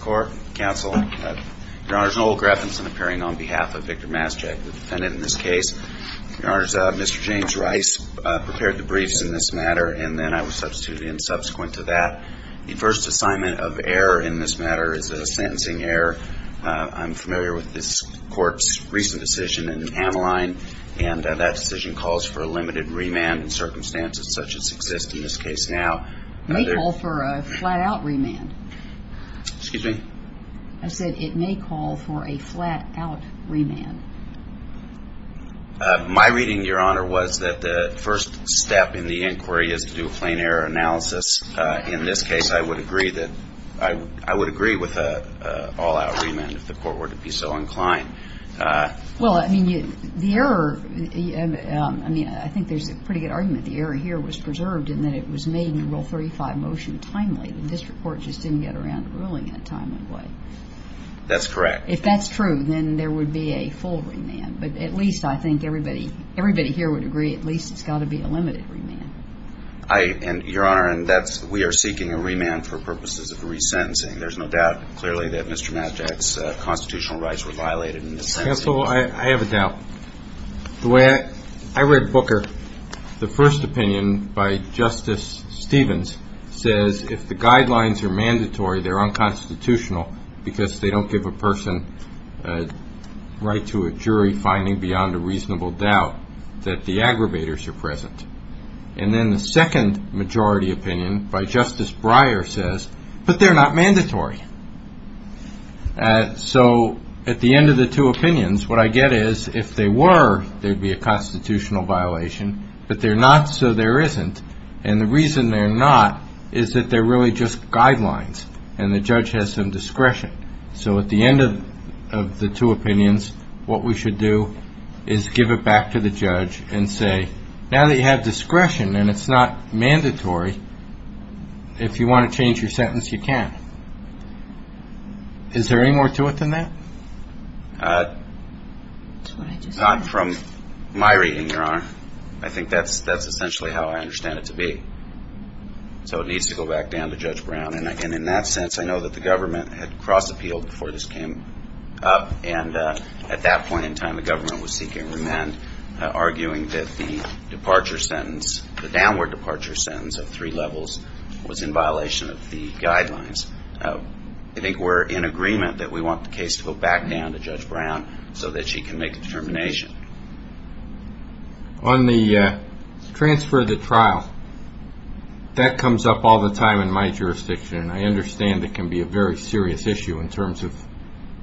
Court, Counsel. Your Honor, Noel Greffenson appearing on behalf of Victor Maszczak, the defendant in this case. Your Honor, Mr. James Rice prepared the briefs in this matter, and then I was substituted in subsequent to that. The first assignment of error in this matter is a sentencing error. I'm familiar with this court's recent decision in Ameline, and that decision calls for a limited remand in circumstances such as exist in this case now. It may call for a flat-out remand. Excuse me? I said it may call for a flat-out remand. My reading, Your Honor, was that the first step in the inquiry is to do a plain error analysis. In this case, I would agree with an all-out remand if the court were to be so inclined. Well, I mean, the error, I mean, I think there's a pretty good argument. The error here was preserved in that it was made in Rule 35 motion timely, and this report just didn't get around to ruling in a timely way. That's correct. If that's true, then there would be a full remand. But at least I think everybody here would agree at least it's got to be a limited remand. Your Honor, we are seeking a remand for purposes of resentencing. There's no doubt clearly that Mr. Matjack's constitutional rights were violated in this sentencing. Counsel, I have a doubt. The way I read Booker, the first opinion by Justice Stevens says if the guidelines are mandatory, they're unconstitutional because they don't give a person a right to a jury finding beyond a reasonable doubt that the aggravators are present. And then the second majority opinion by Justice Breyer says, but they're not mandatory. So at the end of the two opinions, what I get is if they were, there'd be a constitutional violation. But they're not, so there isn't. And the reason they're not is that they're really just guidelines, and the judge has some discretion. So at the end of the two opinions, what we should do is give it back to the judge and say, now that you have discretion and it's not mandatory, if you want to change your sentence, you can. Is there any more to it than that? Not from my reading, Your Honor. I think that's In that sense, I know that the government had cross-appealed before this came up, and at that point in time, the government was seeking remand, arguing that the departure sentence, the downward departure sentence of three levels was in violation of the guidelines. I think we're in agreement that we want the case to go back down to Judge Brown so that she can make a determination. On the transfer of the trial, that comes up all the time in my jurisdiction. I understand it can be a very serious issue in terms of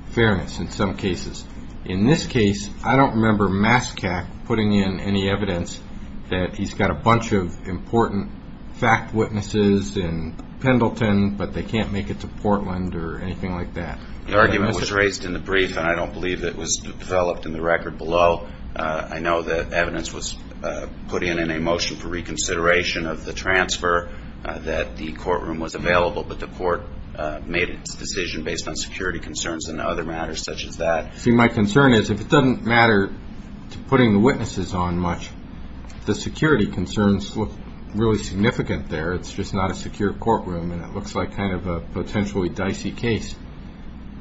fairness in some cases. In this case, I don't remember Mascak putting in any evidence that he's got a bunch of important fact witnesses in Pendleton, but they can't make it to Portland or anything like that. The argument was raised in the brief, and I don't believe it was developed in the record below. I know that evidence was put in in a motion for reconsideration of the transfer, that the courtroom was available, but the court made its decision based on security concerns and other matters such as that. See, my concern is, if it doesn't matter to putting the witnesses on much, the security concerns look really significant there. It's just not a secure courtroom, and it looks like kind of a potentially dicey case.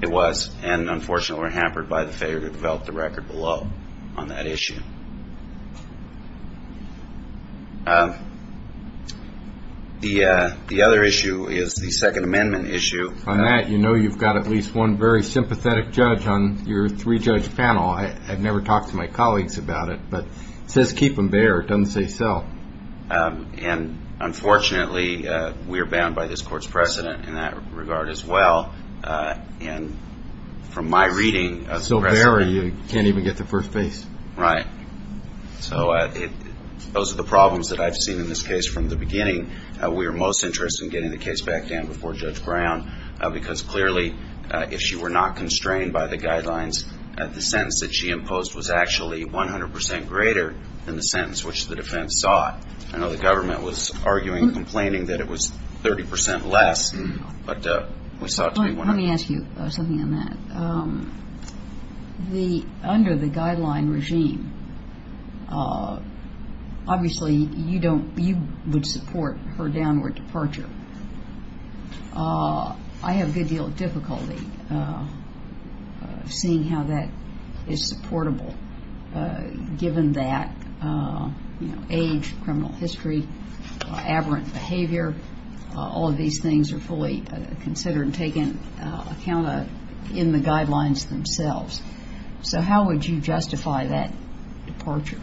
It was, and unfortunately we're hampered by the failure to develop the record below on that issue. The other issue is the Second Amendment issue. On that, you know you've got at least one very sympathetic judge on your three-judge panel. I've never talked to my colleagues about it, but it says keep them bare. It doesn't say sell. And unfortunately, we're bound by this court's precedent in that regard as well. And from my reading... Right. So those are the problems that I've seen in this case from the beginning. We're most interested in getting the case back down before Judge Brown, because clearly, if she were not going to do that, the sentence that she imposed was actually 100 percent greater than the sentence which the defense sought. I know the government was arguing and complaining that it was 30 percent less, but we sought to be... Let me ask you something on that. Under the guideline regime, obviously you don't, you would support her downward departure. I have a good deal of difficulty seeing how that is supportable, given that age, criminal history, aberrant behavior, all of these things are fully considered and taken account of in the guidelines themselves. So how would you justify that departure?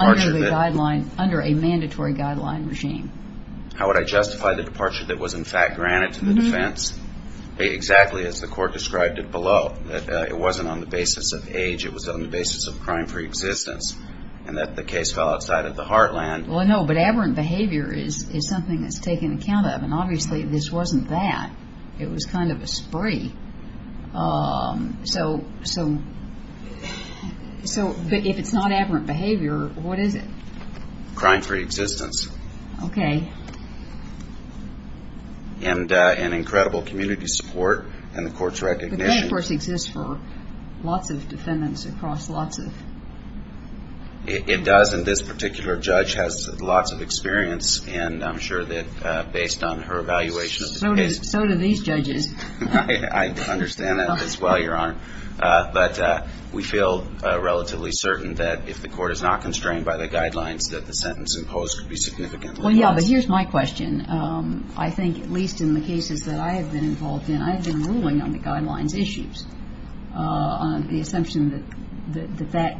Under a mandatory guideline regime. How would I justify the departure that was in fact granted to the defense? Exactly as the court described it below, that it wasn't on the basis of age, it was on the basis of crime-free existence, and that the case fell outside of the heartland. Well, no, but aberrant behavior is something that's taken account of, and obviously this wasn't that. It was kind of a spree. So if it's not aberrant behavior, what is it? Okay. And an incredible community support, and the court's recognition... It does, and this particular judge has lots of experience, and I'm sure that based on her evaluation of the case... So do these judges. I understand that as well, Your Honor. I think at least in the cases that I have been involved in, I have been ruling on the guidelines issues, on the assumption that that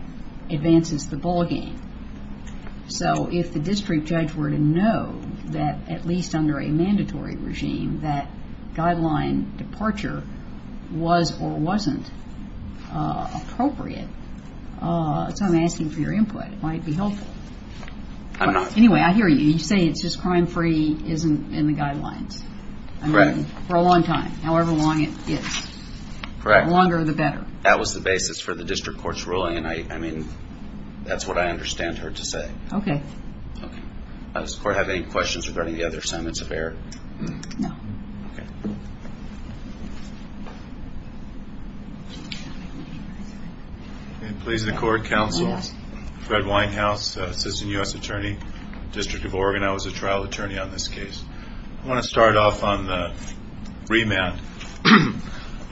advances the ballgame. So if the district judge were to know that at least under a mandatory regime, that guideline departure was or wasn't appropriate, so I'm asking for your input. It might be helpful. Anyway, I hear you. You say it's just crime-free isn't in the guidelines. Correct. Does the court have any questions regarding the other summits of error? No. Please, the court, counsel, Fred Winehouse, Assistant U.S. Attorney, District of Oregon. I was a trial attorney on this case. I want to start off on the remand.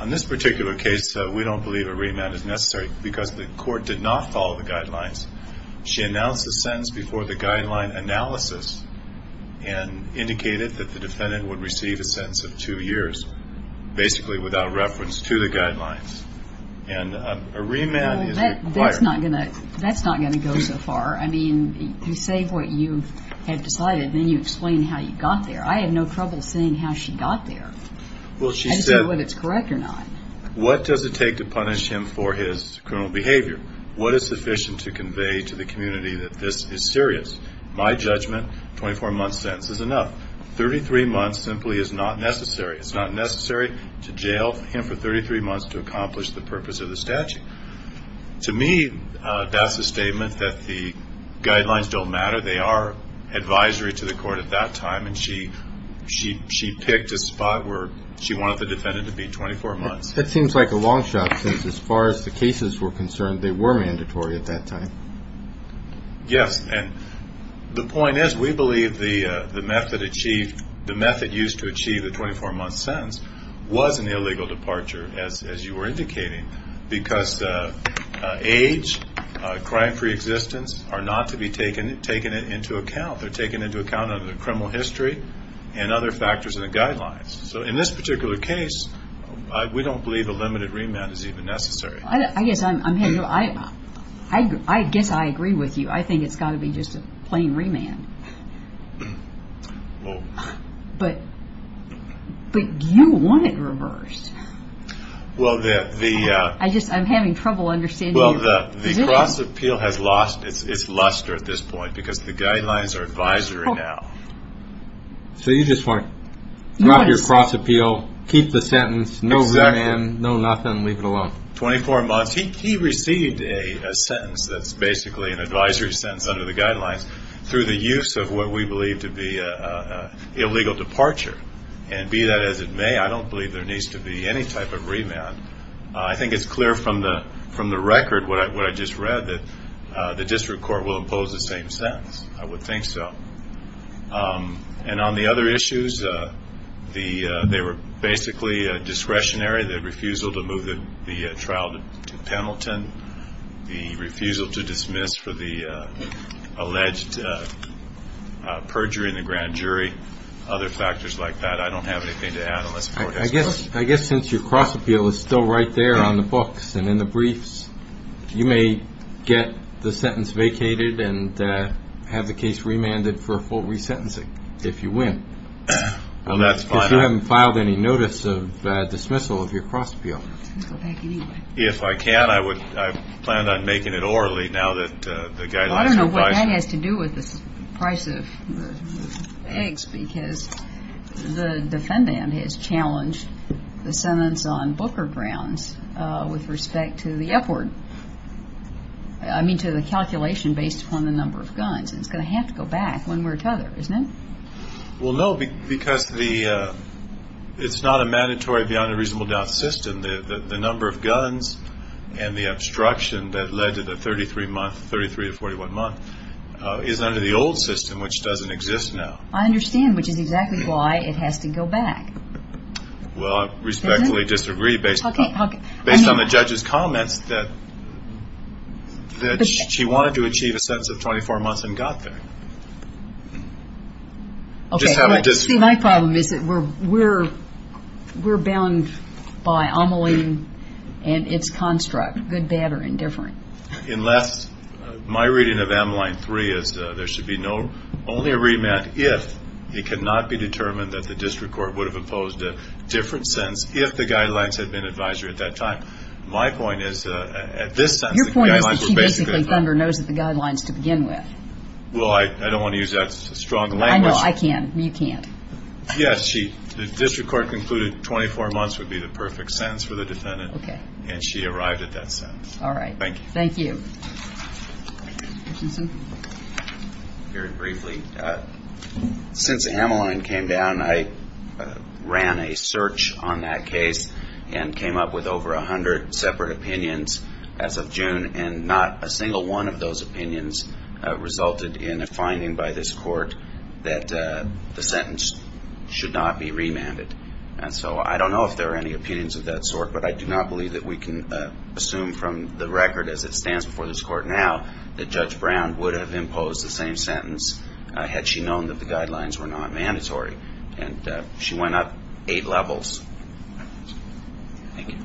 On this particular case, we don't believe a remand is necessary because the court did not follow the guidelines. She announced the sentence before the guideline analysis and indicated that the defendant would receive a sentence of two years, basically without reference to the guidelines. And a remand is required. That's not going to go so far. I mean, you say what you have decided, then you explain how you got there. I have no trouble seeing how she got there. I just don't know whether it's correct or not. To me, that's a statement that the guidelines don't matter. They are advisory to the court at that time, and she picked a spot where she wanted the defendant to be 24 months. That seems like a long shot since as far as the cases were concerned, they were mandatory at that time. Yes, and the point is we believe the method used to achieve the 24-month sentence was an illegal departure, as you were indicating, because age, crime pre-existence are not to be taken into account. They are taken into account under the criminal history and other factors in the guidelines. So in this particular case, we don't believe a limited remand is even necessary. I guess I agree with you. I think it's got to be just a plain remand. But you want it reversed. I'm having trouble understanding your position. The cross appeal has lost its luster at this point because the guidelines are advisory now. So you just want to drop your cross appeal, keep the sentence, no remand, no nothing, leave it alone. Exactly. 24 months. He received a sentence that's basically an advisory sentence under the guidelines through the use of what we believe to be an illegal departure. And be that as it may, I don't believe there needs to be any type of remand. I think it's clear from the record, what I just read, that the district court will impose the same sentence. I would think so. And on the other issues, they were basically discretionary, the refusal to move the trial to Pendleton, the refusal to dismiss for the alleged perjury in the grand jury, other factors like that. I don't have anything to add. I guess since your cross appeal is still right there on the books and in the briefs, you may get the sentence vacated and have the case remanded for a full resentencing if you win. If you haven't filed any notice of dismissal of your cross appeal. If I can, I plan on making it orally. I don't know what that has to do with the price of eggs, because the defendant has challenged the sentence on Booker grounds with respect to the upward, I mean to the calculation based upon the number of guns, and it's going to have to go back one way or another, isn't it? Well, no, because it's not a mandatory beyond a reasonable doubt system. The number of guns and the obstruction that led to the 33 month, 33 to 41 month is under the old system, which doesn't exist now. I understand, which is exactly why it has to go back. Well, I respectfully disagree based on the judge's comments that she wanted to achieve a sentence of 24 months and got there. See, my problem is that we're bound by Ameline and its construct, good, bad, or indifferent. My reading of Ameline 3 is there should be only a remand if it cannot be determined that the district court would have imposed a different sentence if the guidelines had been advisory at that time. My point is, at this sentence, the guidelines were basically the same. Your point is that she basically, Thunder, knows the guidelines to begin with. Well, I don't want to use that strong language. I know, I can. You can't. Yes, the district court concluded 24 months would be the perfect sentence for the defendant, and she arrived at that sentence. All right. Thank you. Very briefly, since Ameline came down, I ran a search on that case and came up with over 100 separate opinions as of June, and not a single one of those opinions resulted in a finding by this court that the sentence should not be remanded. And so I don't know if there are any opinions of that sort, but I do not believe that we can assume from the record, as it stands before this court now, that Judge Brown would have imposed the same sentence had she known that the guidelines were not mandatory. And she went up eight levels. Thank you.